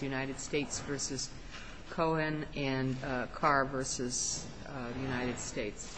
United States v. Cohan and Carr v. United States. United States v. Cohan and Carr v. United States.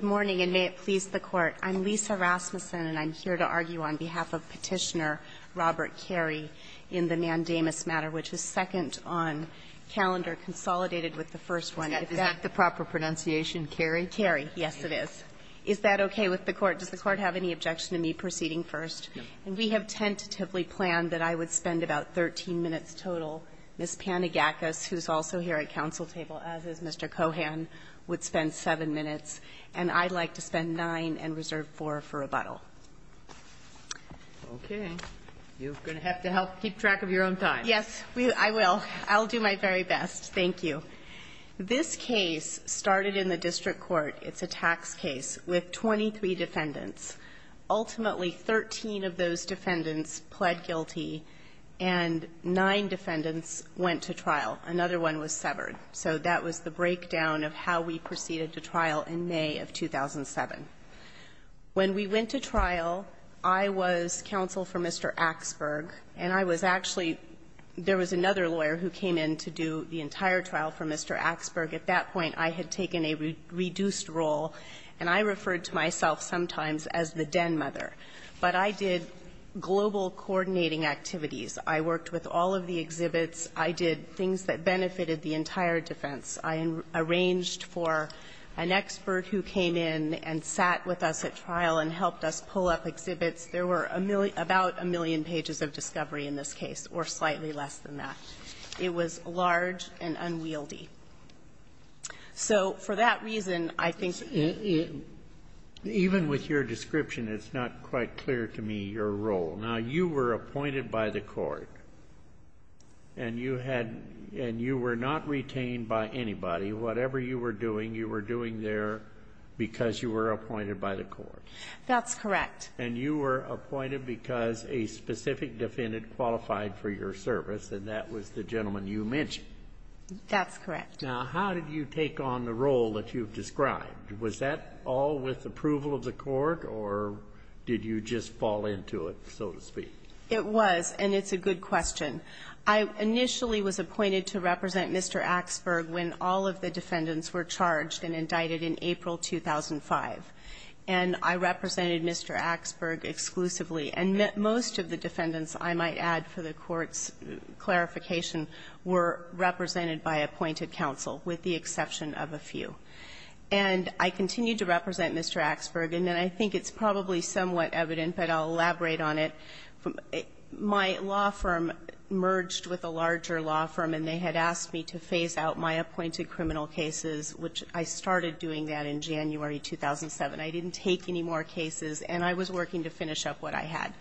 Ms. Rasmussen, I'm here to argue on behalf of Petitioner Robert Carey in the mandamus matter, which is second on calendar, consolidated with the first one. Is that the proper pronunciation, Carey? Carey, yes, it is. Is that okay with the Court? Does the Court have any objection to me proceeding first? And we have tentatively planned that I would spend about 13 minutes total. Ms. Panagakos, who's also here at counsel table, as is Mr. Cohan, would spend 7 minutes. And I'd like to spend 9 and reserve 4 for rebuttal. Okay. You're going to have to help keep track of your own time. Yes, I will. I'll do my very best. Thank you. This case started in the district court. It's a tax case with 23 defendants. Ultimately, 13 of those defendants pled guilty, and 9 defendants went to trial. Another one was severed. So that was the breakdown of how we proceeded to trial in May of 2007. When we went to trial, I was counsel for Mr. Axberg, and I was actually — there was another lawyer who came in to do the entire trial for Mr. Axberg. At that point, I had taken a reduced role, and I referred to myself sometimes as the den mother. But I did global coordinating activities. I worked with all of the exhibits. I did things that benefited the entire defense. I arranged for an expert who came in and sat with us at trial and helped us pull up exhibits. There were a million — about a million pages of discovery in this case, or slightly less than that. It was large and unwieldy. So for that reason, I think — Even with your description, it's not quite clear to me your role. Now, you were appointed by the court, and you had — and you were not retained by anybody. Whatever you were doing, you were doing there because you were appointed by the court. That's correct. And you were appointed because a specific defendant qualified for your service, and that was the gentleman you mentioned. That's correct. Now, how did you take on the role that you've described? Was that all with approval of the court, or did you just fall into it, so to speak? It was, and it's a good question. I initially was appointed to represent Mr. Axberg when all of the defendants were charged and indicted in April 2005. And I represented Mr. Axberg exclusively. And most of the defendants, I might add for the Court's clarification, were represented by appointed counsel, with the exception of a few. And I continued to represent Mr. Axberg, and then I think it's probably somewhat evident, but I'll elaborate on it. My law firm merged with a larger law firm, and they had asked me to phase out my appointed criminal cases, which I started doing that in January 2007. I didn't take any more cases, and I was working to finish up what I had.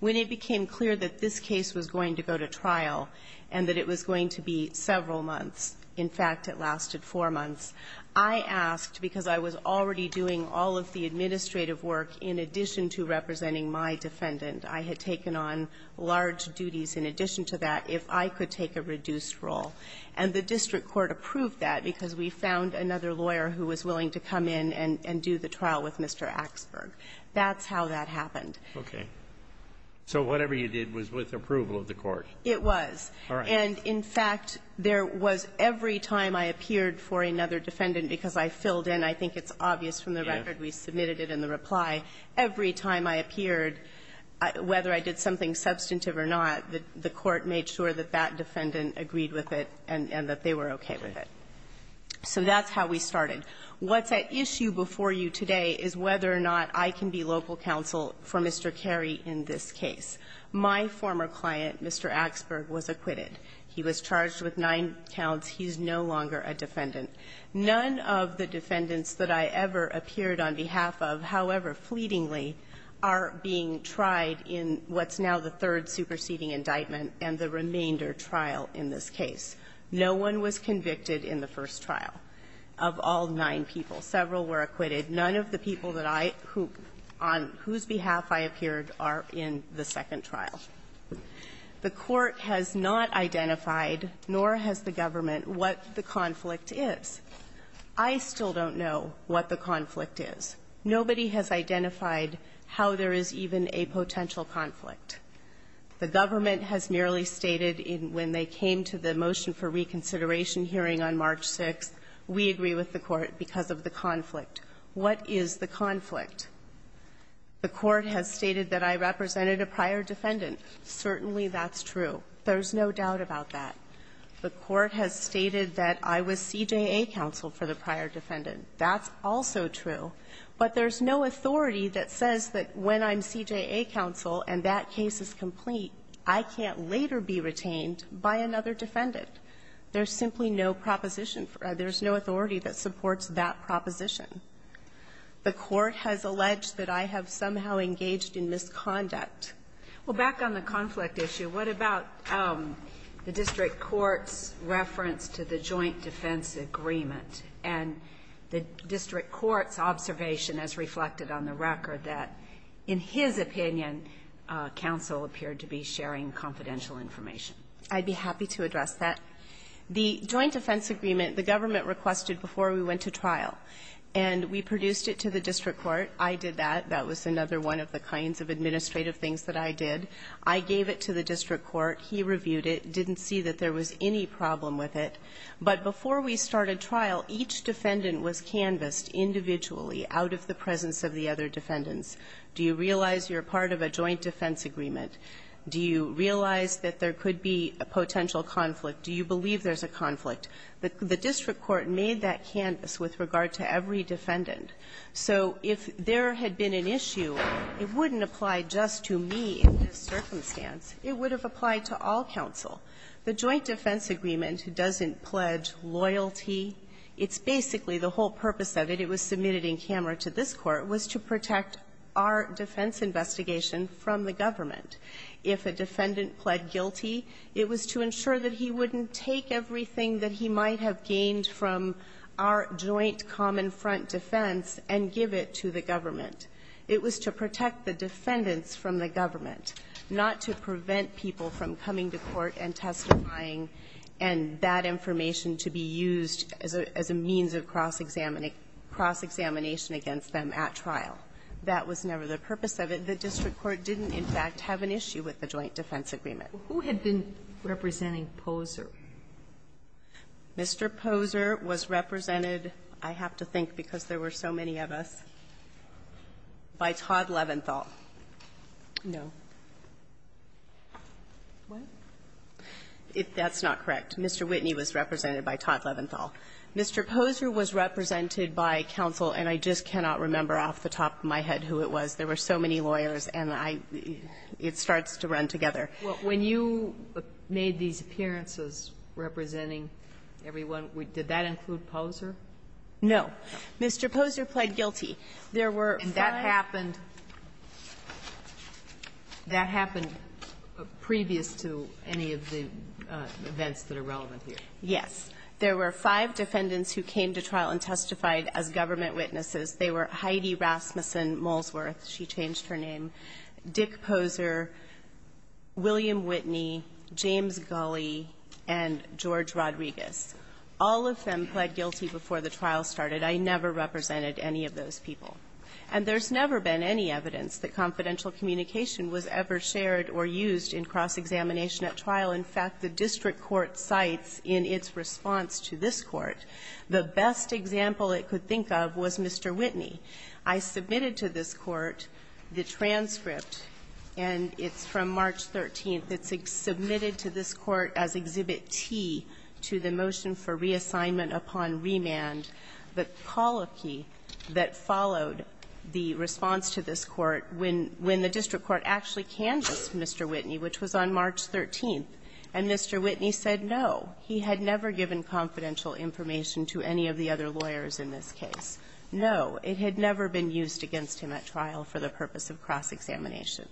When it became clear that this case was going to go to trial, and that it was going to be several months, in fact, it lasted four months, I asked, because I was already doing all of the administrative work in addition to representing my defendant, I had taken on large duties in addition to that, if I could take a reduced role. And the district court approved that, because we found another lawyer who was willing to come in and do the trial with Mr. Axberg. That's how that happened. Roberts. Okay. So whatever you did was with approval of the Court. It was. All right. And, in fact, there was every time I appeared for another defendant, because I filled in, I think it's obvious from the record, we submitted it in the reply, every time I appeared, whether I did something substantive or not, the Court made sure that that defendant agreed with it and that they were okay with it. So that's how we started. What's at issue before you today is whether or not I can be local counsel for Mr. Carey in this case. My former client, Mr. Axberg, was acquitted. He was charged with nine counts. He's no longer a defendant. None of the defendants that I ever appeared on behalf of, however fleetingly, are being tried in what's now the third superseding indictment and the remainder trial in this case. No one was convicted in the first trial. Of all nine people, several were acquitted. None of the people that I who – on whose behalf I appeared are in the second trial. The Court has not identified, nor has the government, what the conflict is. I still don't know what the conflict is. Nobody has identified how there is even a potential conflict. The government has merely stated in when they came to the motion for reconsideration hearing on March 6th, we agree with the Court because of the conflict. What is the conflict? The Court has stated that I represented a prior defendant. Certainly that's true. There's no doubt about that. The Court has stated that I was CJA counsel for the prior defendant. That's also true. But there's no authority that says that when I'm CJA counsel and that case is complete, I can't later be retained by another defendant. There's simply no proposition for that. There's no authority that supports that proposition. The Court has alleged that I have somehow engaged in misconduct. Well, back on the conflict issue, what about the district court's reference to the joint defense agreement and the district court's observation, as reflected on the record, that in his opinion counsel appeared to be sharing confidential information? I'd be happy to address that. The joint defense agreement, the government requested before we went to trial, and we produced it to the district court. I did that. That was another one of the kinds of administrative things that I did. I gave it to the district court. He reviewed it, didn't see that there was any problem with it. But before we started trial, each defendant was canvassed individually out of the presence of the other defendants. Do you realize you're part of a joint defense agreement? Do you realize that there could be a potential conflict? Do you believe there's a conflict? The district court made that canvass with regard to every defendant. So if there had been an issue, it wouldn't apply just to me in this circumstance. It would have applied to all counsel. The joint defense agreement doesn't pledge loyalty. It's basically the whole purpose of it. It was submitted in camera to this Court, was to protect our defense investigation from the government. If a defendant pled guilty, it was to ensure that he wouldn't take everything that he might have gained from our joint common front defense and give it to the government. It was to protect the defendants from the government, not to prevent people from coming to court and testifying and that information to be used as a means of cross examination against them at trial. That was never the purpose of it. The district court didn't, in fact, have an issue with the joint defense agreement. Who had been representing Poser? Mr. Poser was represented, I have to think because there were so many of us, by Todd Leventhal. No. What? That's not correct. Mr. Whitney was represented by Todd Leventhal. Mr. Poser was represented by counsel, and I just cannot remember off the top of my head who it was. There were so many lawyers, and I – it starts to run together. Well, when you made these appearances representing everyone, did that include Poser? No. Mr. Poser pled guilty. There were five – And that happened – that happened previous to any of the events that are relevant here. Yes. There were five defendants who came to trial and testified as government witnesses. They were Heidi Rasmussen-Molesworth, she changed her name, Dick Poser, William Whitney, James Gulley, and George Rodriguez. All of them pled guilty before the trial started. I never represented any of those people. And there's never been any evidence that confidential communication was ever shared or used in cross-examination at trial. In fact, the district court cites in its response to this Court, the best example it could think of was Mr. Whitney. I submitted to this Court the transcript, and it's from March 13th. It's submitted to this Court as Exhibit T to the motion for reassignment upon remand, the coloquy that followed the response to this Court when the district court actually canvassed Mr. Whitney, which was on March 13th. And Mr. Whitney said, no, he had never given confidential information to any of the other lawyers in this case. No, it had never been used against him at trial for the purpose of cross-examination.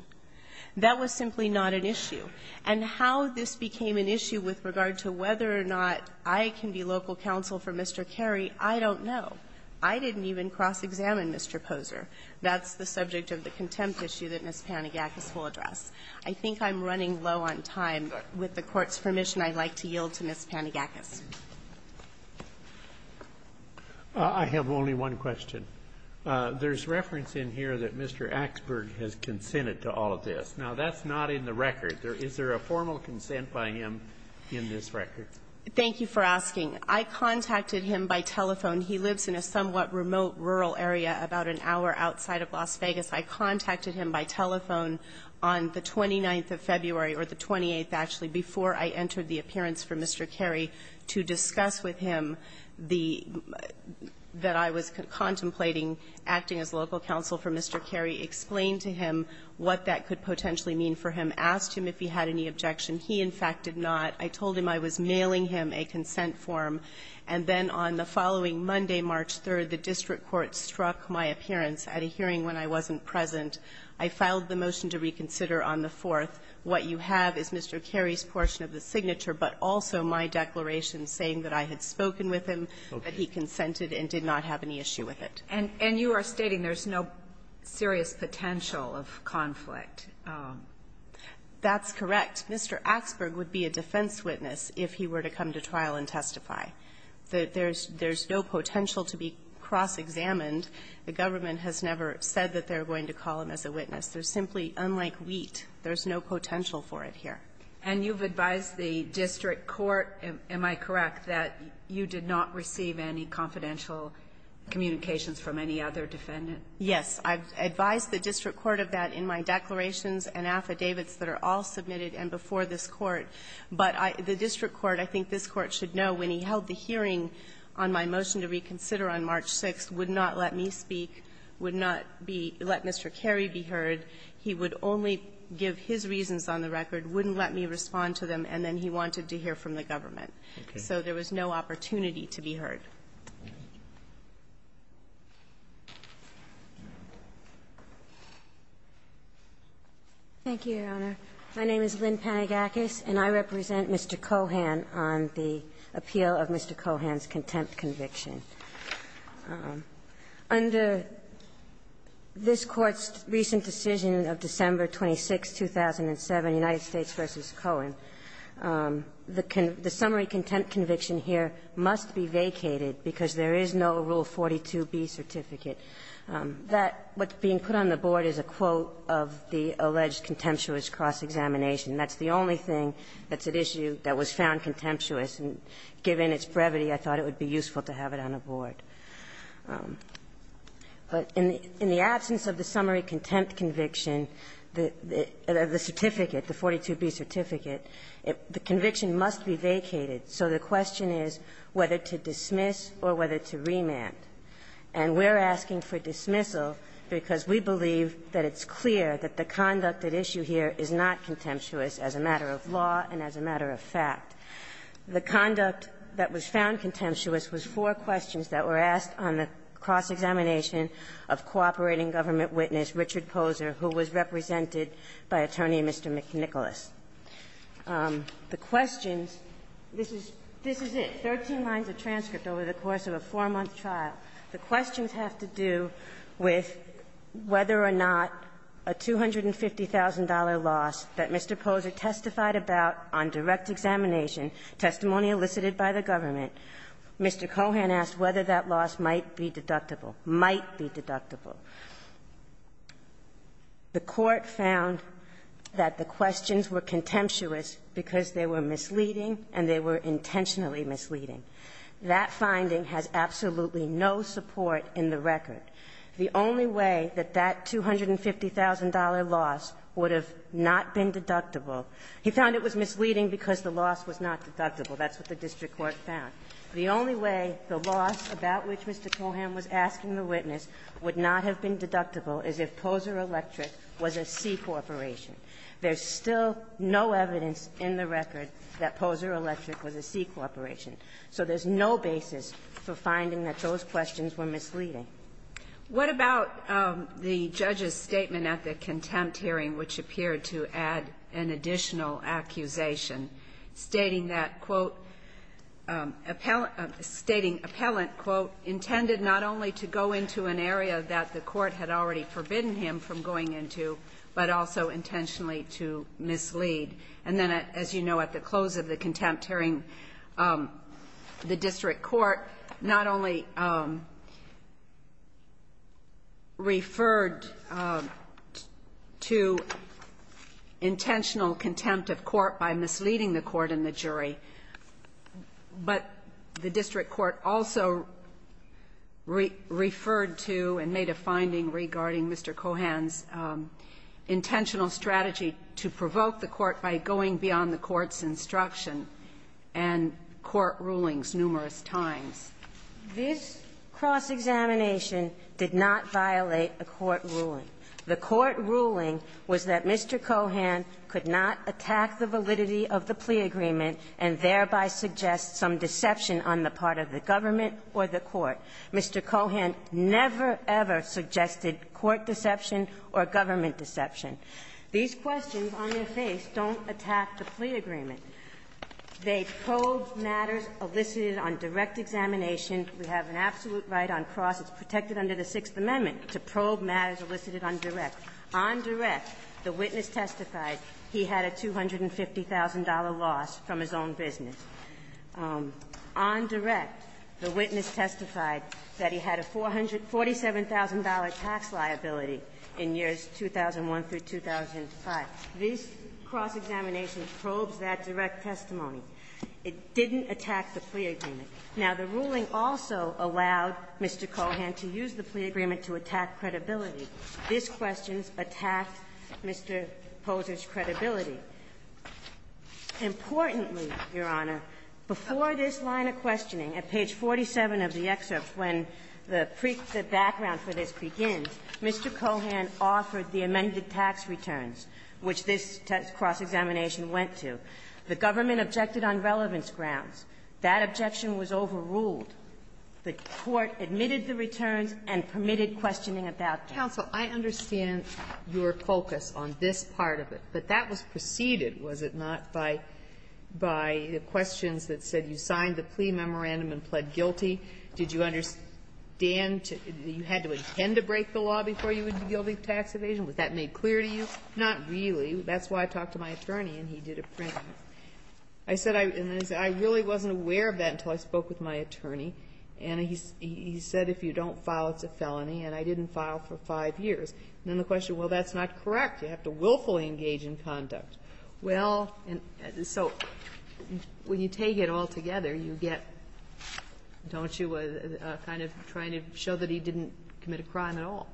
That was simply not an issue. And how this became an issue with regard to whether or not I can be local counsel for Mr. Carey, I don't know. I didn't even cross-examine Mr. Poser. That's the subject of the contempt issue that Ms. Panagakos will address. I think I'm running low on time. With the Court's permission, I'd like to yield to Ms. Panagakos. Roberts. I have only one question. There's reference in here that Mr. Axberg has consented to all of this. Now, that's not in the record. Is there a formal consent by him in this record? Thank you for asking. I contacted him by telephone. He lives in a somewhat remote rural area about an hour outside of Las Vegas. I contacted him by telephone on the 29th of February, or the 28th, actually, before I entered the appearance for Mr. Carey to discuss with him the — that I was contemplating acting as local counsel for Mr. Carey, explained to him what that could potentially mean for him, asked him if he had any objection. He, in fact, did not. I told him I was mailing him a consent form, and then on the following Monday, March 3rd, the district court struck my appearance at a hearing when I wasn't present. I filed the motion to reconsider on the 4th. What you have is Mr. Carey's portion of the signature, but also my declaration saying that I had spoken with him, that he consented and did not have any issue with it. And you are stating there's no serious potential of conflict. That's correct. Mr. Axberg would be a defense witness if he were to come to trial and testify. There's no potential to be cross-examined. The government has never said that they're going to call him as a witness. They're simply unlike wheat. There's no potential for it here. And you've advised the district court, am I correct, that you did not receive any confidential communications from any other defendant? Yes. I've advised the district court of that in my declarations and affidavits that are all submitted and before this Court. But I — the district court, I think this Court should know, when he held the hearing on my motion to reconsider on March 6th, would not let me speak, would not be — let Mr. Carey be heard. He would only give his reasons on the record, wouldn't let me respond to them, and then he wanted to hear from the government. So there was no opportunity to be heard. Thank you, Your Honor. My name is Lynn Panagakis, and I represent Mr. Cohan on the appeal of Mr. Cohan's contempt conviction. Under this Court's recent decision of December 26, 2007, United States v. Cohan, the summary contempt conviction here must be vacated because there is no Rule 42B certificate. That — what's being put on the board is a quote of the alleged contemptuous cross-examination. That's the only thing that's at issue that was found contemptuous, and given its original purpose, it's not on the board. But in the absence of the summary contempt conviction, the certificate, the 42B certificate, the conviction must be vacated. So the question is whether to dismiss or whether to remand. And we're asking for dismissal because we believe that it's clear that the conduct at issue here is not contemptuous as a matter of law and as a matter of fact. The conduct that was found contemptuous was four questions that were asked on the cross-examination of cooperating government witness Richard Poser, who was represented by Attorney Mr. McNicholas. The questions — this is it, 13 lines of transcript over the course of a four-month trial. The questions have to do with whether or not a $250,000 loss that Mr. Poser testified about on direct examination, testimony elicited by the government, Mr. Cohan asked whether that loss might be deductible, might be deductible. The Court found that the questions were contemptuous because they were misleading and they were intentionally misleading. That finding has absolutely no support in the record. The only way that that $250,000 loss would have not been deductible — he found it was misleading because the loss was not deductible. That's what the district court found. The only way the loss about which Mr. Cohan was asking the witness would not have been deductible is if Poser Electric was a C corporation. There's still no evidence in the record that Poser Electric was a C corporation. So there's no basis for finding that those questions were misleading. What about the judge's statement at the contempt hearing, which appeared to add an additional accusation, stating that, quote, appellate — stating appellant, quote, intended not only to go into an area that the court had already forbidden him from going into, but also intentionally to mislead? And then, as you know, at the close of the contempt hearing, the district court not only referred to intentional contempt of court by misleading the court and the jury, but the district court also referred to and made a finding regarding Mr. Cohan's intentional strategy to provoke the court by going beyond the court's This cross-examination did not violate a court ruling. The court ruling was that Mr. Cohan could not attack the validity of the plea agreement and thereby suggest some deception on the part of the government or the court. Mr. Cohan never, ever suggested court deception or government deception. These questions, on their face, don't attack the plea agreement. They probe matters elicited on direct examination. We have an absolute right on cross. It's protected under the Sixth Amendment to probe matters elicited on direct. On direct, the witness testified he had a $250,000 loss from his own business. On direct, the witness testified that he had a $47,000 tax liability in years 2001 through 2005. This cross-examination probes that direct testimony. It didn't attack the plea agreement. Now, the ruling also allowed Mr. Cohan to use the plea agreement to attack credibility. These questions attacked Mr. Poser's credibility. Importantly, Your Honor, before this line of questioning, at page 47 of the excerpt when the background for this begins, Mr. Cohan offered the amended tax returns. Which this cross-examination went to. The government objected on relevance grounds. That objection was overruled. The court admitted the returns and permitted questioning about them. Sotomayor, I understand your focus on this part of it. But that was preceded, was it not, by the questions that said, you signed the plea memorandum and pled guilty? Did you understand you had to tend to break the law before you would be guilty of tax evasion? Was that made clear to you? Not really. That's why I talked to my attorney and he did a print. I said I really wasn't aware of that until I spoke with my attorney. And he said if you don't file, it's a felony. And I didn't file for five years. And then the question, well, that's not correct. You have to willfully engage in conduct. Well, so when you take it all together, you get, don't you, a kind of trying to show that he didn't commit a crime at all.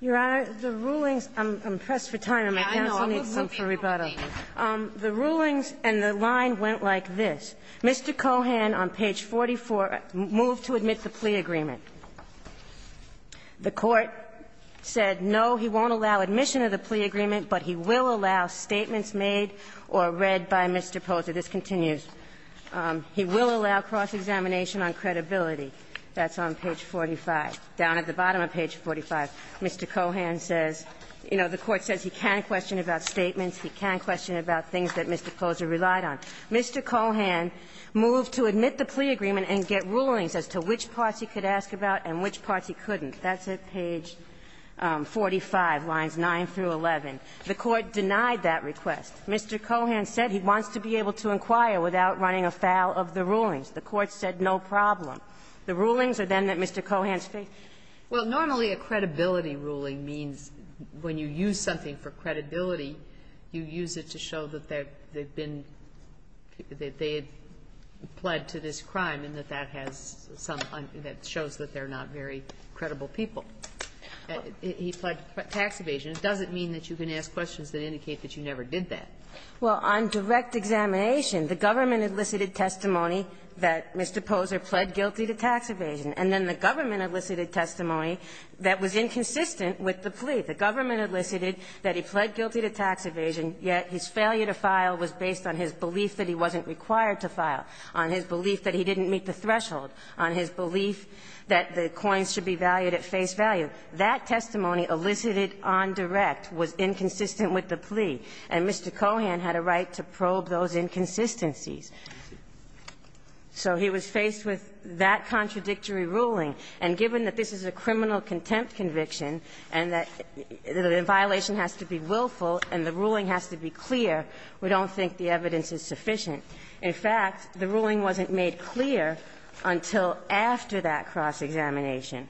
Your Honor, the rulings – I'm pressed for time and my counsel needs some rebuttal. The rulings and the line went like this. Mr. Cohan on page 44 moved to admit the plea agreement. The Court said, no, he won't allow admission of the plea agreement, but he will allow statements made or read by Mr. Poser. This continues. He will allow cross-examination on credibility. That's on page 45, down at the bottom of page 45. Mr. Cohan says, you know, the Court says he can question about statements, he can question about things that Mr. Poser relied on. Mr. Cohan moved to admit the plea agreement and get rulings as to which parts he could ask about and which parts he couldn't. That's at page 45, lines 9 through 11. The Court denied that request. Mr. Cohan said he wants to be able to inquire without running afoul of the rulings. The Court said, no problem. The rulings are then that Mr. Cohan's faith. Well, normally a credibility ruling means when you use something for credibility, you use it to show that they've been they've pled to this crime and that that has some that shows that they're not very credible people. He pled tax evasion. It doesn't mean that you can ask questions that indicate that you never did that. Well, on direct examination, the government elicited testimony that Mr. Poser pled guilty to tax evasion, and then the government elicited testimony that was inconsistent with the plea. The government elicited that he pled guilty to tax evasion, yet his failure to file was based on his belief that he wasn't required to file, on his belief that he didn't meet the threshold, on his belief that the coins should be valued at face value. That testimony elicited on direct was inconsistent with the plea, and Mr. Cohan had a right to probe those inconsistencies. So he was faced with that contradictory ruling, and given that this is a criminal contempt conviction and that the violation has to be willful and the ruling has to be clear, we don't think the evidence is sufficient. In fact, the ruling wasn't made clear until after that cross-examination,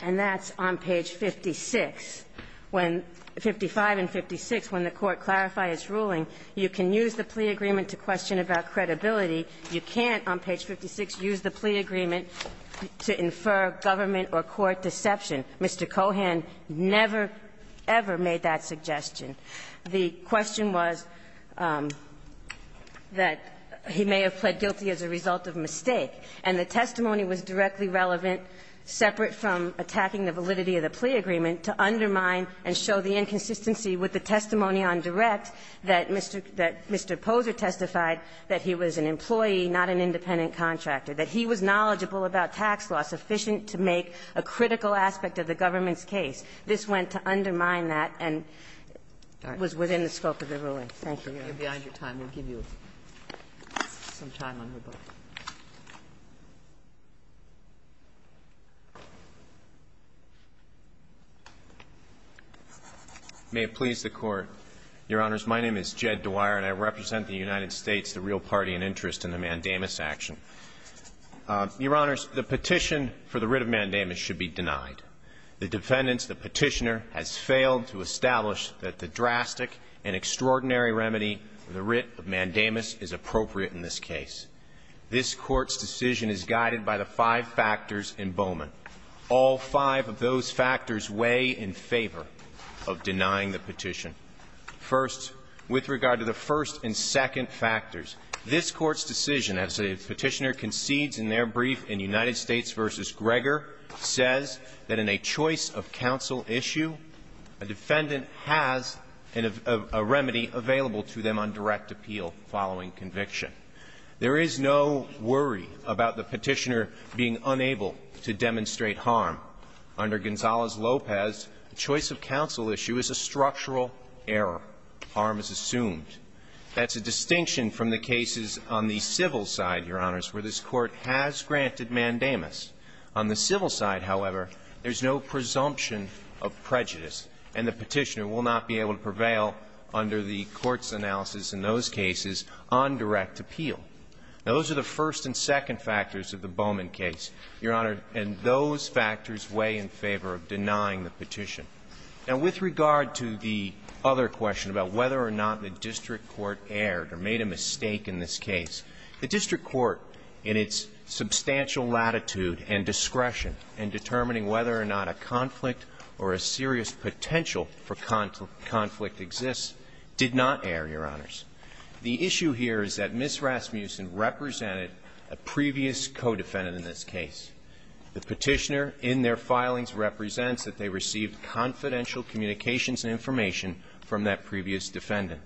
and that's on page 56, when 55 and 56, when the Court clarified its ruling, you can use the plea agreement to question about credibility. You can't, on page 56, use the plea agreement to infer government or court deception. Mr. Cohan never, ever made that suggestion. The question was that he may have pled guilty as a result of mistake, and the testimony was directly relevant, separate from attacking the validity of the plea agreement, to undermine and show the inconsistency with the testimony on direct that Mr. Poser testified that he was an employee, not an independent contractor, that he was knowledgeable about tax law sufficient to make a critical aspect of the government's case. This went to undermine that and was within the scope of the ruling. Thank you, Your Honor. May it please the Court, Your Honors, my name is Jed Dwyer and I represent the United States, the real party and interest in the mandamus action. Your Honors, the petition for the writ of mandamus should be denied. The defendants, the Petitioner, has failed to establish that the drastic and extraordinary remedy of the writ of mandamus is appropriate in this case. This Court's decision is guided by the five factors in Bowman. All five of those factors weigh in favor of denying the petition. First, with regard to the first and second factors, this Court's decision, as the Petitioner concedes in their brief in United States v. Gregor, says that in a choice of counsel issue, a defendant has a remedy available to them on direct appeal following conviction. There is no worry about the Petitioner being unable to demonstrate harm. Under Gonzales-Lopez, a choice of counsel issue is a structural error. Harm is assumed. That's a distinction from the cases on the civil side, Your Honors, where this Court has granted mandamus. On the civil side, however, there's no presumption of prejudice, and the Petitioner will not be able to prevail under the Court's analysis in those cases on direct appeal. Now, those are the first and second factors of the Bowman case, Your Honor, and those factors weigh in favor of denying the petition. Now, with regard to the other question about whether or not the district court erred or made a mistake in this case, the district court, in its substantial latitude and discretion in determining whether or not a conflict or a serious potential for conflict exists, did not err, Your Honors. The issue here is that Ms. Rasmussen represented a previous co-defendant in this case. The Petitioner, in their filings, represents that they received confidential communications and information from that previous defendant.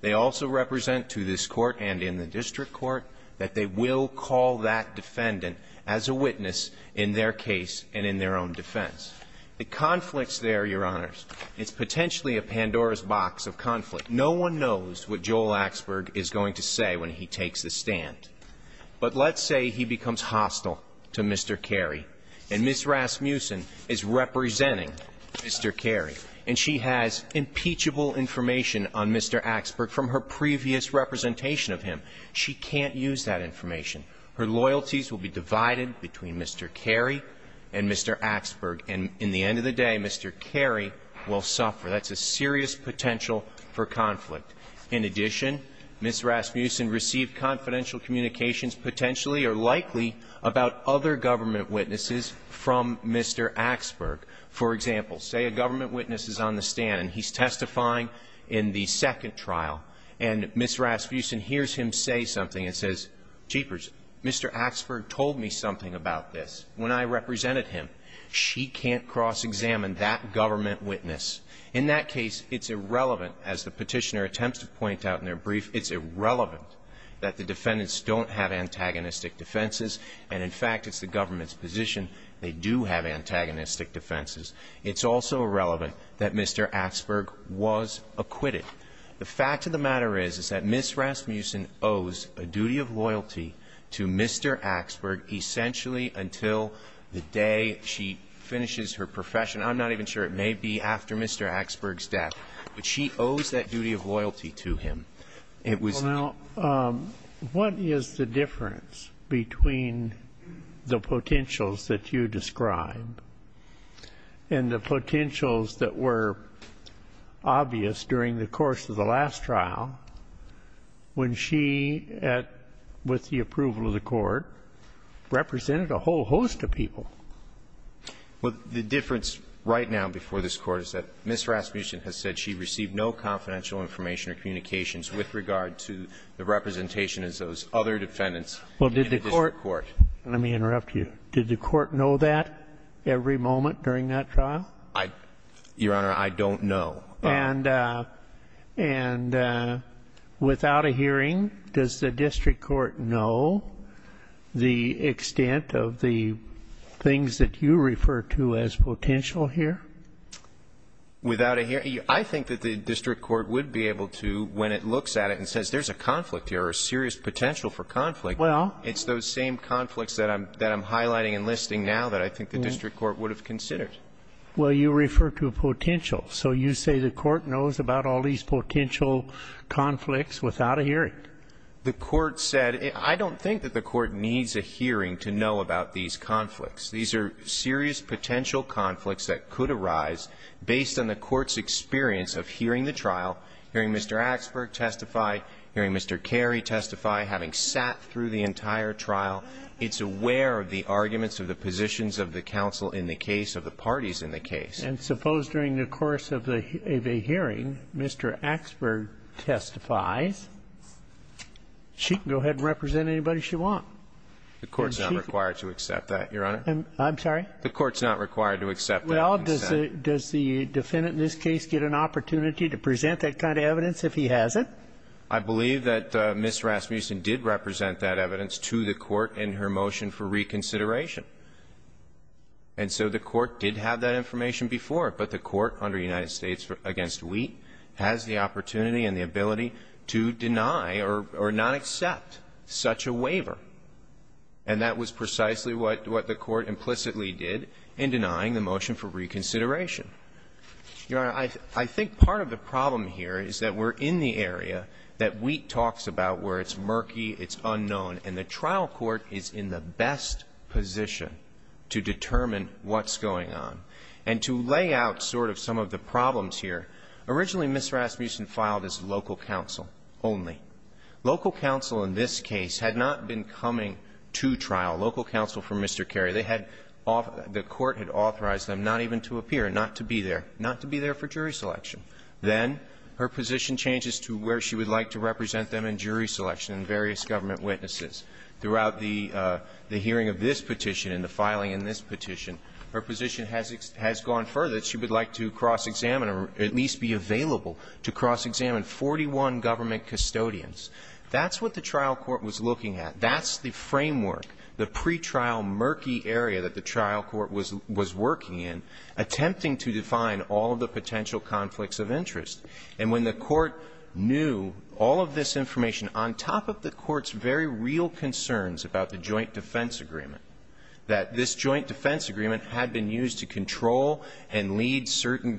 They also represent to this Court and in the district court that they will call that defendant as a witness in their case and in their own defense. The conflicts there, Your Honors, it's potentially a Pandora's box of conflict. No one knows what Joel Axberg is going to say when he takes the stand. But let's say he becomes hostile to Mr. Carey, and Ms. Rasmussen is representing Mr. Carey, and she has impeachable information on Mr. Axberg from her previous representation of him. She can't use that information. Her loyalties will be divided between Mr. Carey and Mr. Axberg. And in the end of the day, Mr. Carey will suffer. That's a serious potential for conflict. In addition, Ms. Rasmussen received confidential communications, potentially or likely, about other government witnesses from Mr. Axberg. For example, say a government witness is on the stand, and he's testifying in the second trial, and Ms. Rasmussen hears him say something and says, jeepers, Mr. Axberg told me something about this when I represented him. She can't cross-examine that government witness. In that case, it's irrelevant, as the Petitioner attempts to point out in their brief, it's irrelevant that the defendants don't have antagonistic defenses, and in fact, it's the government's position they do have antagonistic defenses. It's also irrelevant that Mr. Axberg was acquitted. The fact of the matter is, is that Ms. Rasmussen owes a duty of loyalty to Mr. Axberg essentially until the day she finishes her profession. I'm not even sure it may be after Mr. Axberg's death. But she owes that duty of loyalty to him. It was- And the potentials that were obvious during the course of the last trial, when she at the approval of the Court represented a whole host of people. Well, the difference right now before this Court is that Ms. Rasmussen has said she received no confidential information or communications with regard to the representation as those other defendants in the district court. Well, did the Court – let me interrupt you. Did the Court know that every moment during that trial? Your Honor, I don't know. And without a hearing, does the district court know the extent of the things that you refer to as potential here? Without a hearing? I think that the district court would be able to, when it looks at it and says, there's a conflict here, a serious potential for conflict, it's those same conflicts that I'm highlighting and listing now that I think the district court would have considered. Well, you refer to a potential. So you say the Court knows about all these potential conflicts without a hearing? The Court said – I don't think that the Court needs a hearing to know about these conflicts. These are serious potential conflicts that could arise based on the Court's experience of hearing the trial, hearing Mr. Axberg testify, hearing Mr. Carey testify, having sat through the entire trial. It's aware of the arguments of the positions of the counsel in the case, of the parties in the case. And suppose during the course of the hearing, Mr. Axberg testifies, she can go ahead and represent anybody she wants. The Court's not required to accept that, Your Honor. I'm sorry? The Court's not required to accept that. Well, does the defendant in this case get an opportunity to present that kind of evidence if he has it? I believe that Ms. Rasmussen did represent that evidence to the Court in her motion for reconsideration. And so the Court did have that information before, but the Court, under United States v. Wheat, has the opportunity and the ability to deny or not accept such a waiver. And that was precisely what the Court implicitly did in denying the motion for reconsideration. Your Honor, I think part of the problem here is that we're in the area that Wheat talks about where it's murky, it's unknown, and the trial court is in the best position to determine what's going on. And to lay out sort of some of the problems here, originally Ms. Rasmussen filed as local counsel only. Local counsel in this case had not been coming to trial. Local counsel for Mr. Carey. They had the Court had authorized them not even to appear, not to be there, not to be there for jury selection. Then her position changes to where she would like to represent them in jury selection and various government witnesses. Throughout the hearing of this petition and the filing in this petition, her position has gone further. She would like to cross-examine or at least be available to cross-examine 41 government custodians. That's what the trial court was looking at. That's the framework. The pretrial murky area that the trial court was working in, attempting to define all of the potential conflicts of interest. And when the Court knew all of this information, on top of the Court's very real concerns about the joint defense agreement, that this joint defense agreement had been used to control and lead certain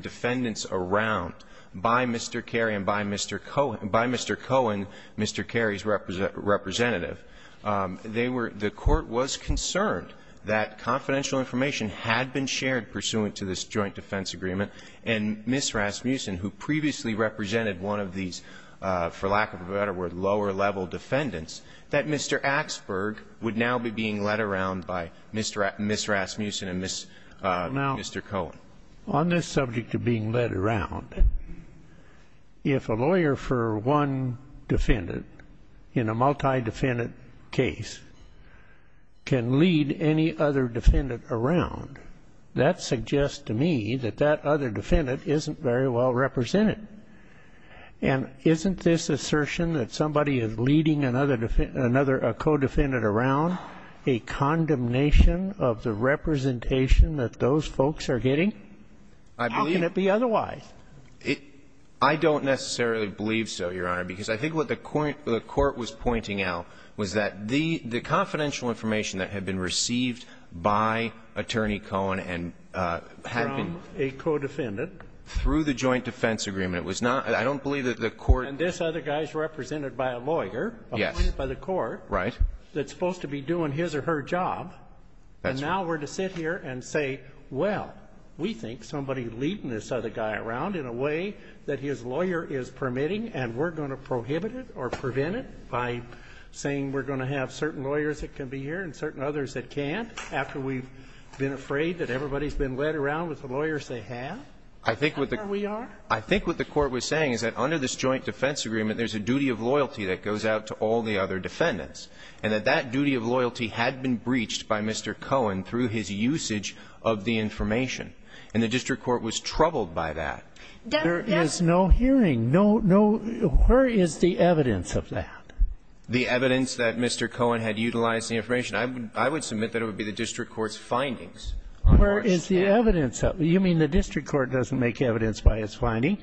defendants around by Mr. Carey and by Mr. Cohen, the Court was concerned that confidential information had been shared pursuant to this joint defense agreement, and Ms. Rasmussen, who previously represented one of these, for lack of a better word, lower-level defendants, that Mr. Axberg would now be being led around by Ms. Rasmussen and Mr. Cohen. Now, on this subject of being led around, if a lawyer for one defendant in a multi-defendant case can lead any other defendant around, that suggests to me that that other defendant isn't very well represented. And isn't this assertion that somebody is leading another co-defendant around a condemnation of the representation that those folks are getting? How can it be otherwise? I don't necessarily believe so, Your Honor, because I think what the Court was pointing out was that the confidential information that had been received by Attorney Cohen and had been through the joint defense agreement, it was not, I don't believe that the Court And this other guy is represented by a lawyer appointed by the Court that's supposed to be doing his or her job, and now we're to sit here and say, well, we think somebody leading this other guy around in a way that his lawyer is permitting, and we're going to prohibit it or prevent it by saying we're going to have certain lawyers that can be here and certain others that can't, after we've been afraid that everybody's been led around with the lawyers they have? I think what the Court was saying is that under this joint defense agreement, there's a duty of loyalty that goes out to all the other defendants, and that that duty of loyalty had been breached by Mr. Cohen through his usage of the information, and the district court was troubled by that. There is no hearing. No, no. Where is the evidence of that? The evidence that Mr. Cohen had utilized the information. I would submit that it would be the district court's findings. Where is the evidence? You mean the district court doesn't make evidence by its finding?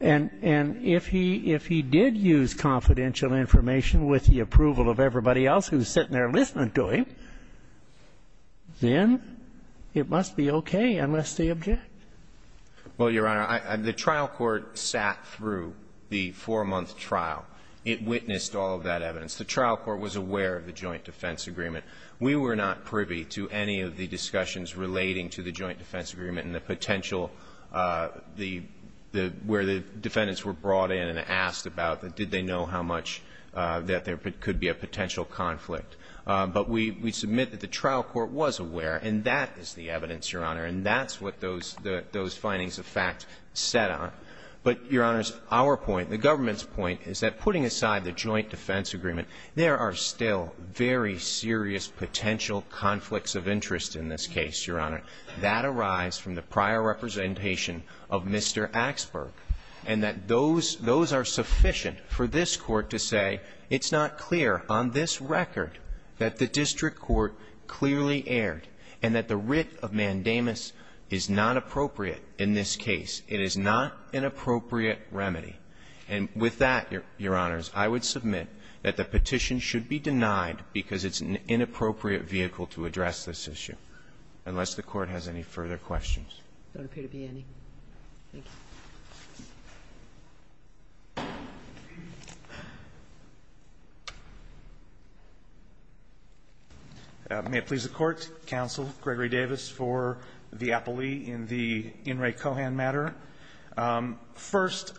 And if he did use confidential information with the approval of everybody else who's sitting there listening to him, then it must be okay unless they object. Well, Your Honor, the trial court sat through the four-month trial. It witnessed all of that evidence. The trial court was aware of the joint defense agreement. We were not privy to any of the discussions relating to the joint defense agreement and the potential, the – where the defendants were brought in and asked about, did they know how much – that there could be a potential conflict. But we submit that the trial court was aware, and that is the evidence, Your Honor, and that's what those findings of fact set on. But, Your Honor, our point, the government's point is that putting aside the joint defense agreement, there are still very serious potential conflicts of interest in this case, Your Honor. That arises from the prior representation of Mr. Axberg, and that those are sufficient for this court to say, it's not clear on this record that the district court clearly erred, and that the writ of mandamus is not appropriate in this case. It is not an appropriate remedy. And with that, Your Honors, I would submit that the petition should be denied because it's an inappropriate vehicle to address this issue, unless the Court has any further questions. There don't appear to be any. Thank you. May it please the Court, Counsel Gregory Davis, for the appealee in the In re Cohen matter. First,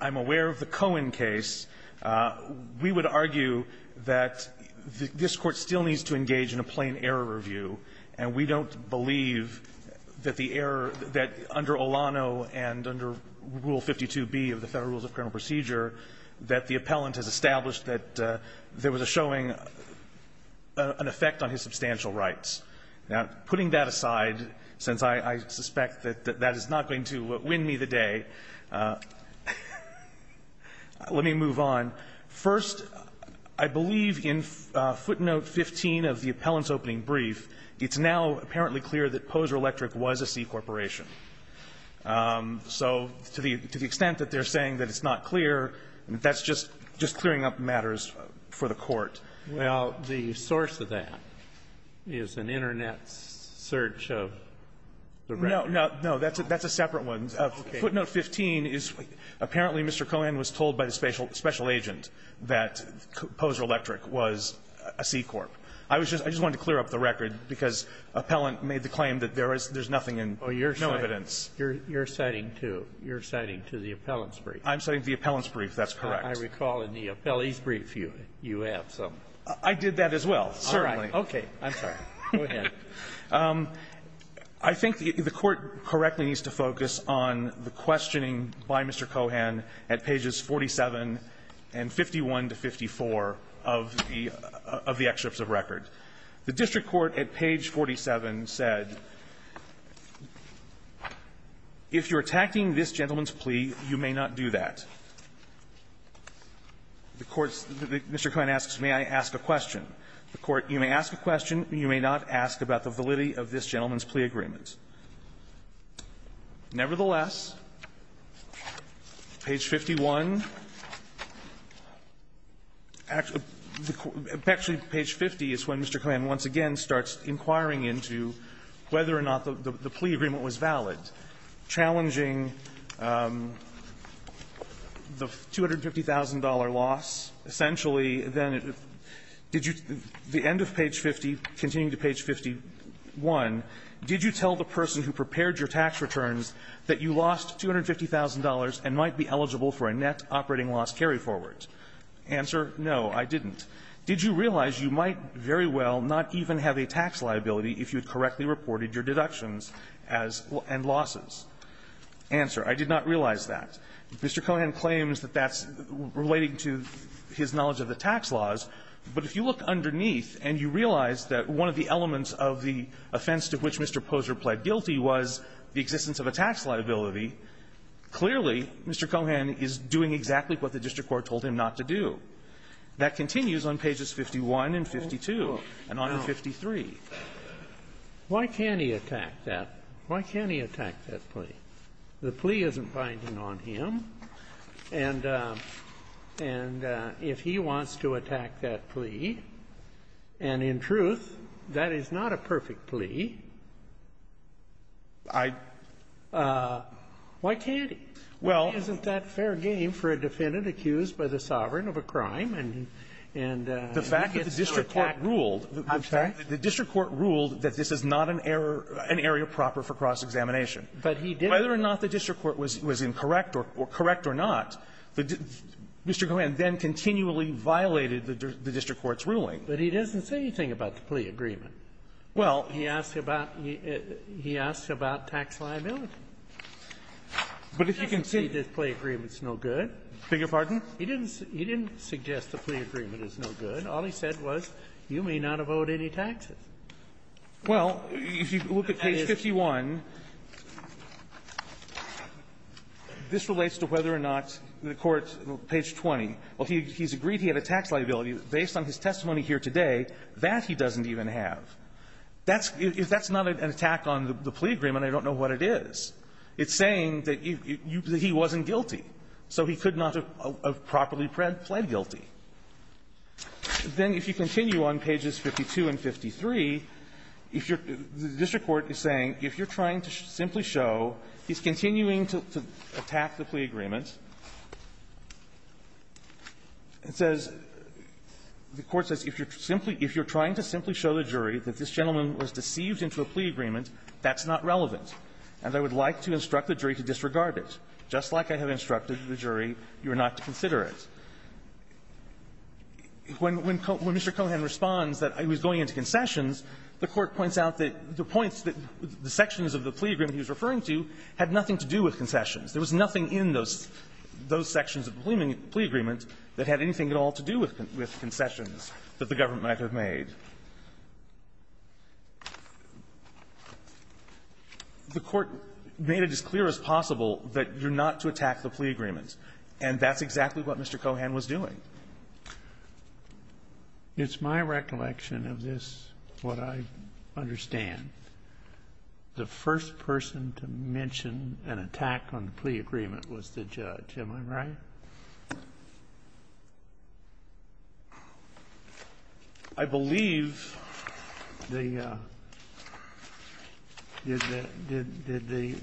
I'm aware of the Cohen case. We would argue that this Court still needs to engage in a plain error review, and we don't believe that the error, that under Olano and under Rule 52b of the Federal Rules of Criminal Procedure, that the appellant has established that there was a showing an effect on his substantial rights. Now, putting that aside, since I suspect that that is not going to win me the day, let me move on. First, I believe in footnote 15 of the appellant's opening brief, it's now apparently clear that Poser Electric was a C corporation. So to the extent that they're saying that it's not clear, that's just clearing up matters for the Court. Well, the source of that is an Internet search of the record. No, that's a separate one. Footnote 15 is, apparently, Mr. Cohen was told by the special agent. That Poser Electric was a C corp. I just wanted to clear up the record, because appellant made the claim that there is nothing in no evidence. Oh, you're citing, you're citing to, you're citing to the appellant's brief. I'm citing to the appellant's brief. That's correct. I recall in the appellee's brief you have some. I did that as well, certainly. All right. Okay. I'm sorry. Go ahead. I think the Court correctly needs to focus on the questioning by Mr. Cohen at pages 47 and 51 to 54 of the excerpts of record. The district court at page 47 said, if you're attacking this gentleman's plea, you may not do that. The court's Mr. Cohen asks, may I ask a question. The court, you may ask a question, you may not ask about the validity of this gentleman's plea agreement. Nevertheless, page 51, actually page 50 is when Mr. Cohen once again starts inquiring into whether or not the plea agreement was valid, challenging the $250,000 loss. Essentially, then, did you the end of page 50, continuing to page 51, did you tell the person who prepared your tax returns that you lost $250,000 and might be eligible for a net operating loss carryforward? Answer, no, I didn't. Did you realize you might very well not even have a tax liability if you had correctly reported your deductions as end losses? Answer, I did not realize that. Mr. Cohen claims that that's relating to his knowledge of the tax laws, but if you look underneath and you realize that one of the elements of the offense to which Mr. Poser pled guilty was the existence of a tax liability, clearly Mr. Cohen is doing exactly what the district court told him not to do. That continues on pages 51 and 52 and on to 53. Why can't he attack that? Why can't he attack that plea? The plea isn't binding on him. And if he wants to attack that plea, and in truth, that is not a perfect plea, I don't know. Why can't he? Well isn't that fair game for a defendant accused by the sovereign of a crime? And the fact that the district court ruled that this is not an error, an area proper for cross-examination. But he didn't. Whether or not the district court was incorrect or correct or not, Mr. Cohen then continually violated the district court's ruling. But he doesn't say anything about the plea agreement. Well, he asked about tax liability. But if you can see the plea agreement is no good. Beg your pardon? He didn't suggest the plea agreement is no good. All he said was you may not have owed any taxes. Well, if you look at page 51, this relates to whether or not the court, page 20, well, he's agreed he had a tax liability. Based on his testimony here today, that he doesn't even have. If that's not an attack on the plea agreement, I don't know what it is. It's saying that he wasn't guilty. So he could not have properly pled guilty. Then if you continue on pages 52 and 53, if you're the district court is saying if you're trying to simply show he's continuing to attack the plea agreement, it says, the court says, if you're simply if you're trying to simply show the jury that this gentleman was deceived into a plea agreement, that's not relevant. And I would like to instruct the jury to disregard it. Just like I have instructed the jury you are not to consider it. When Mr. Cohan responds that he was going into concessions, the court points out that the points that the sections of the plea agreement he was referring to had nothing to do with concessions. There was nothing in those sections of the plea agreement that had anything at all to do with concessions that the government might have made. The court made it as clear as possible that you're not to attack the plea agreement. And that's exactly what Mr. Cohan was doing. It's my recollection of this, what I understand. The first person to mention an attack on the plea agreement was the judge. Am I right? I believe the did the did the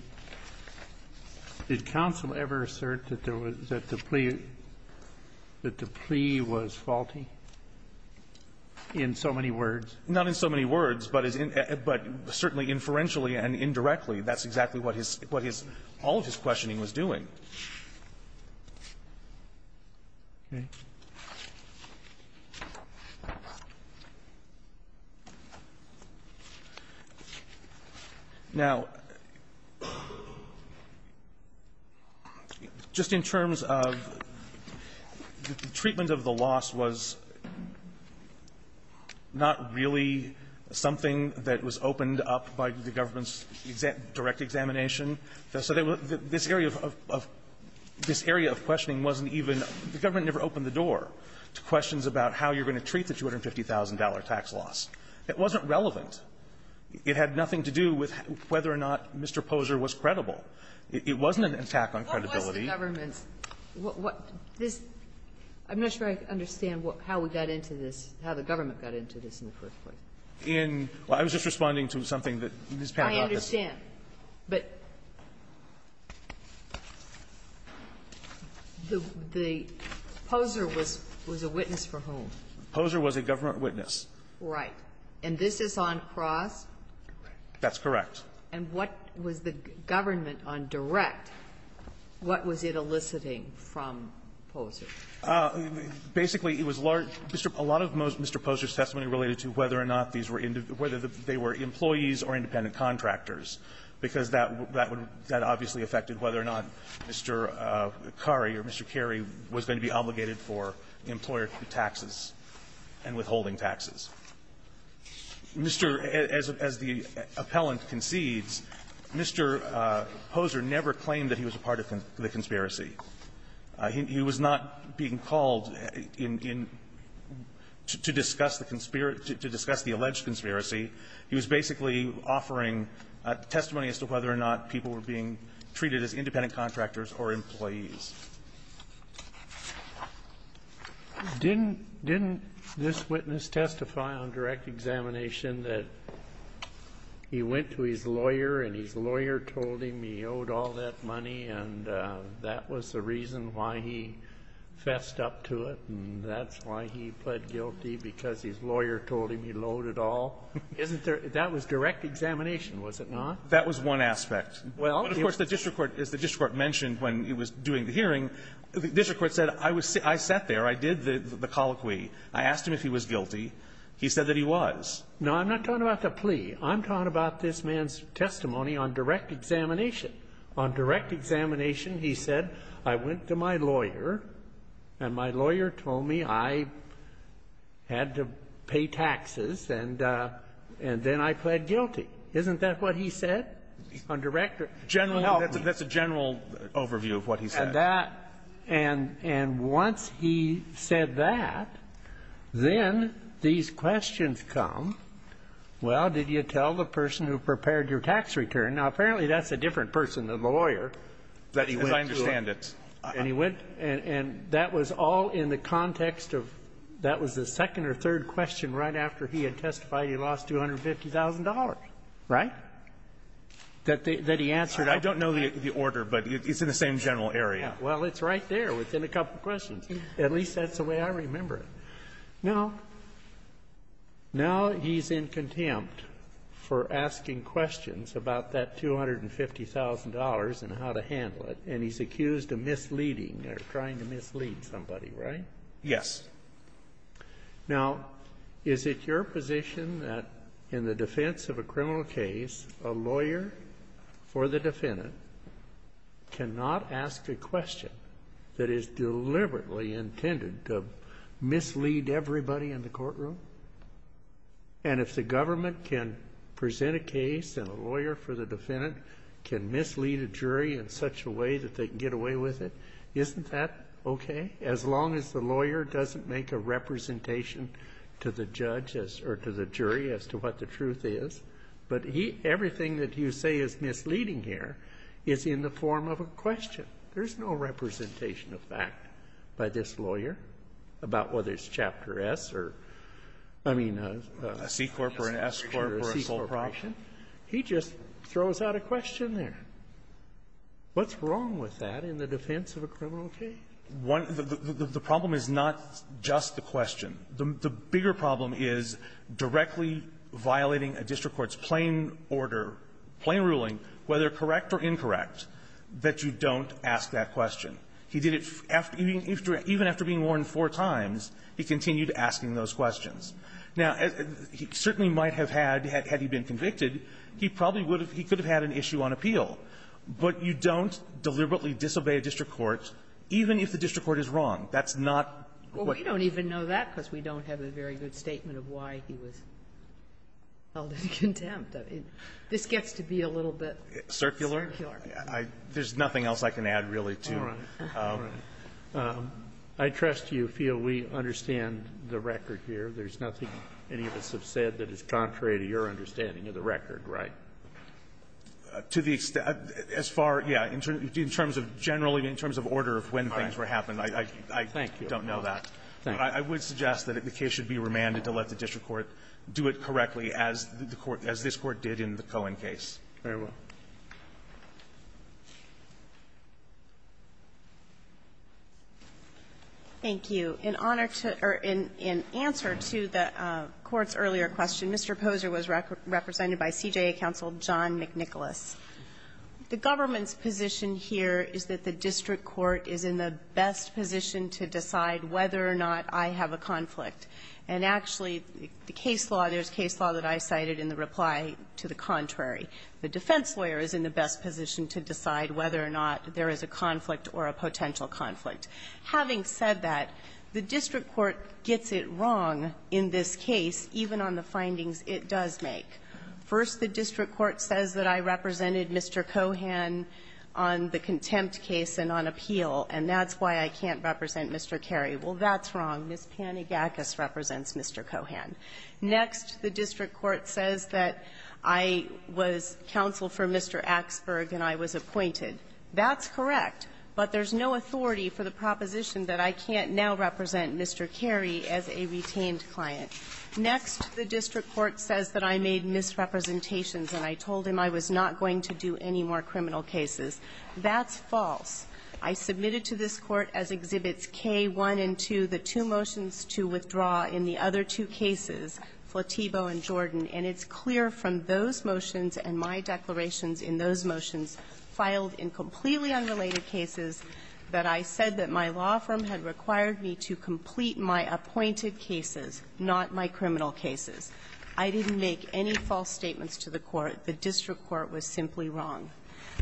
did counsel ever assert that there was a plea agreement or that the plea that the plea was faulty in so many words? Not in so many words, but certainly inferentially and indirectly, that's exactly what his what his all of his questioning was doing. Okay. Now, just in terms of the treatment of the loss was not really something that was opened up by the government's direct examination. So this area of this area of questioning wasn't even the government never opened the door to questions about how you're going to treat the $250,000 tax loss. It wasn't relevant. It had nothing to do with whether or not Mr. Poser was credible. It wasn't an attack on credibility. What was the government's what this I'm not sure I understand what how we got into this how the government got into this in the first place. In I was just responding to something that Ms. Panner brought up. I don't understand, but the Poser was was a witness for whom? Poser was a government witness. Right. And this is on cross? That's correct. And what was the government on direct, what was it eliciting from Poser? Basically, it was a lot of Mr. Poser's testimony related to whether or not these were whether they were employees or independent contractors, because that that would that obviously affected whether or not Mr. Khari or Mr. Khari was going to be obligated for employer taxes and withholding taxes. Mr. As the appellant concedes, Mr. Poser never claimed that he was a part of the conspiracy. He was not being called in to discuss the conspiracy to discuss the alleged conspiracy. He was basically offering testimony as to whether or not people were being treated as independent contractors or employees. Didn't didn't this witness testify on direct examination that he went to his lawyer and told him he owed all that money and that was the reason why he fessed up to it? And that's why he pled guilty, because his lawyer told him he owed it all? Isn't there that was direct examination, was it not? That was one aspect. Well, of course, the district court, as the district court mentioned when it was doing the hearing, the district court said I was I sat there, I did the colloquy. I asked him if he was guilty. No, I'm not talking about the plea. I'm talking about this man's testimony on direct examination. On direct examination, he said I went to my lawyer and my lawyer told me I had to pay taxes and then I pled guilty. Isn't that what he said? On direct or general help? That's a general overview of what he said. And that and and once he said that, then these questions come. Well, did you tell the person who prepared your tax return? Now, apparently, that's a different person than the lawyer. As I understand it. And he went and that was all in the context of that was the second or third question right after he had testified he lost $250,000, right? That he answered. I don't know the order, but it's in the same general area. Well, it's right there within a couple of questions. At least that's the way I remember it. Now, now he's in contempt for asking questions about that $250,000 and how to handle it, and he's accused of misleading or trying to mislead somebody, right? Yes. Now, is it your position that in the defense of a criminal case, a lawyer for the defense defendant cannot ask a question that is deliberately intended to mislead everybody in the courtroom? And if the government can present a case and a lawyer for the defendant can mislead a jury in such a way that they can get away with it, isn't that okay? As long as the lawyer doesn't make a representation to the judge or to the jury as to what the is in the form of a question. There's no representation of fact by this lawyer about whether it's Chapter S or, I mean, a C corp or an S corp or a C corporation. He just throws out a question there. What's wrong with that in the defense of a criminal case? One of the --- the problem is not just the question. The bigger problem is directly violating a district court's plain order, plain ruling, whether correct or incorrect, that you don't ask that question. He did it after he was -- even after being warned four times, he continued asking those questions. Now, he certainly might have had, had he been convicted, he probably would have -- he could have had an issue on appeal. But you don't deliberately disobey a district court even if the district court is wrong. That's not what --- Well, we don't even know that because we don't have a very good statement of why he was held in contempt. This gets to be a little bit circular. Circular. There's nothing else I can add, really, to it. All right. All right. I trust you feel we understand the record here. There's nothing any of us have said that is contrary to your understanding of the record, right? To the extent, as far, yeah, in terms of generally, in terms of order of when things were happening, I don't know that. Thank you. Thank you. I would suggest that the case should be remanded to let the district court do it correctly as the court as this Court did in the Cohen case. Very well. Thank you. In honor to or in answer to the Court's earlier question, Mr. Poser was represented by CJA counsel John McNicholas. The government's position here is that the district court is in the best position to decide whether or not I have a conflict. And actually, the case law, there's case law that I cited in the reply to the contrary. The defense lawyer is in the best position to decide whether or not there is a conflict or a potential conflict. Having said that, the district court gets it wrong in this case, even on the findings it does make. First, the district court says that I represented Mr. Cohen on the contempt case and on appeal, and that's why I can't represent Mr. Carey. Well, that's wrong. Ms. Panagakos represents Mr. Cohen. Next, the district court says that I was counsel for Mr. Axberg and I was appointed. That's correct, but there's no authority for the proposition that I can't now represent Mr. Carey as a retained client. Next, the district court says that I made misrepresentations and I told him I was not going to do any more criminal cases. That's false. I submitted to this Court, as Exhibits K, 1, and 2, the two motions to withdraw in the other two cases, Flatebo and Jordan, and it's clear from those motions and my declarations in those motions filed in completely unrelated cases that I said that my law firm had required me to complete my appointed cases, not my criminal cases. I didn't make any false statements to the Court. The district court was simply wrong.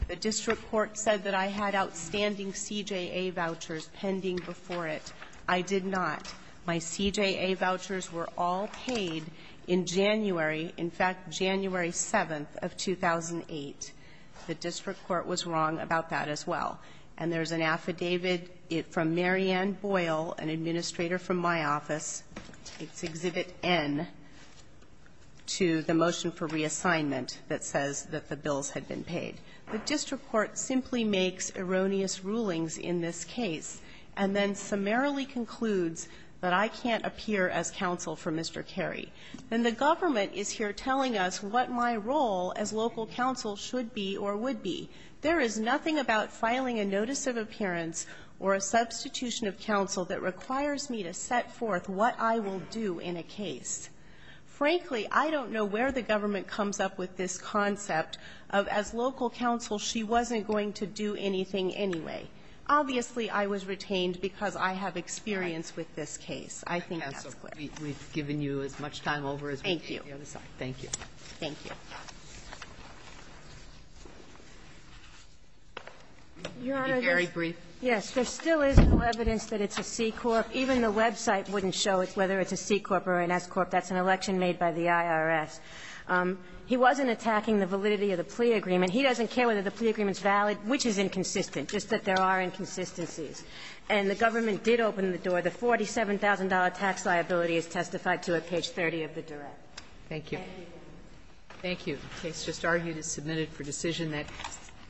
The district court said that I had outstanding CJA vouchers pending before it. I did not. My CJA vouchers were all paid in January, in fact, January 7th of 2008. The district court was wrong about that as well. And there's an affidavit from Mary Ann Boyle, an administrator from my office, it's Exhibit N, to the motion for reassignment that says that the bills had been paid. The district court simply makes erroneous rulings in this case and then summarily concludes that I can't appear as counsel for Mr. Carey. And the government is here telling us what my role as local counsel should be or would be. There is nothing about filing a notice of appearance or a substitution of counsel that requires me to set forth what I will do in a case. Frankly, I don't know where the government comes up with this concept of as local counsel she wasn't going to do anything anyway. Obviously, I was retained because I have experience with this case. I think that's clear. Kagan. We've given you as much time over as we can. Thank you. Thank you. Thank you. Your Honor, this is very brief. I think the government is here telling us that it's a C-Corp. Even the website wouldn't show whether it's a C-Corp or an S-Corp. That's an election made by the IRS. He wasn't attacking the validity of the plea agreement. He doesn't care whether the plea agreement's valid, which is inconsistent, just that there are inconsistencies. And the government did open the door. The $47,000 tax liability is testified to at page 30 of the direct. Thank you. Thank you. The case just argued is submitted for decision. That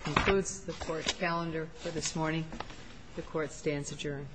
concludes the Court's calendar for this morning. The Court stands adjourned.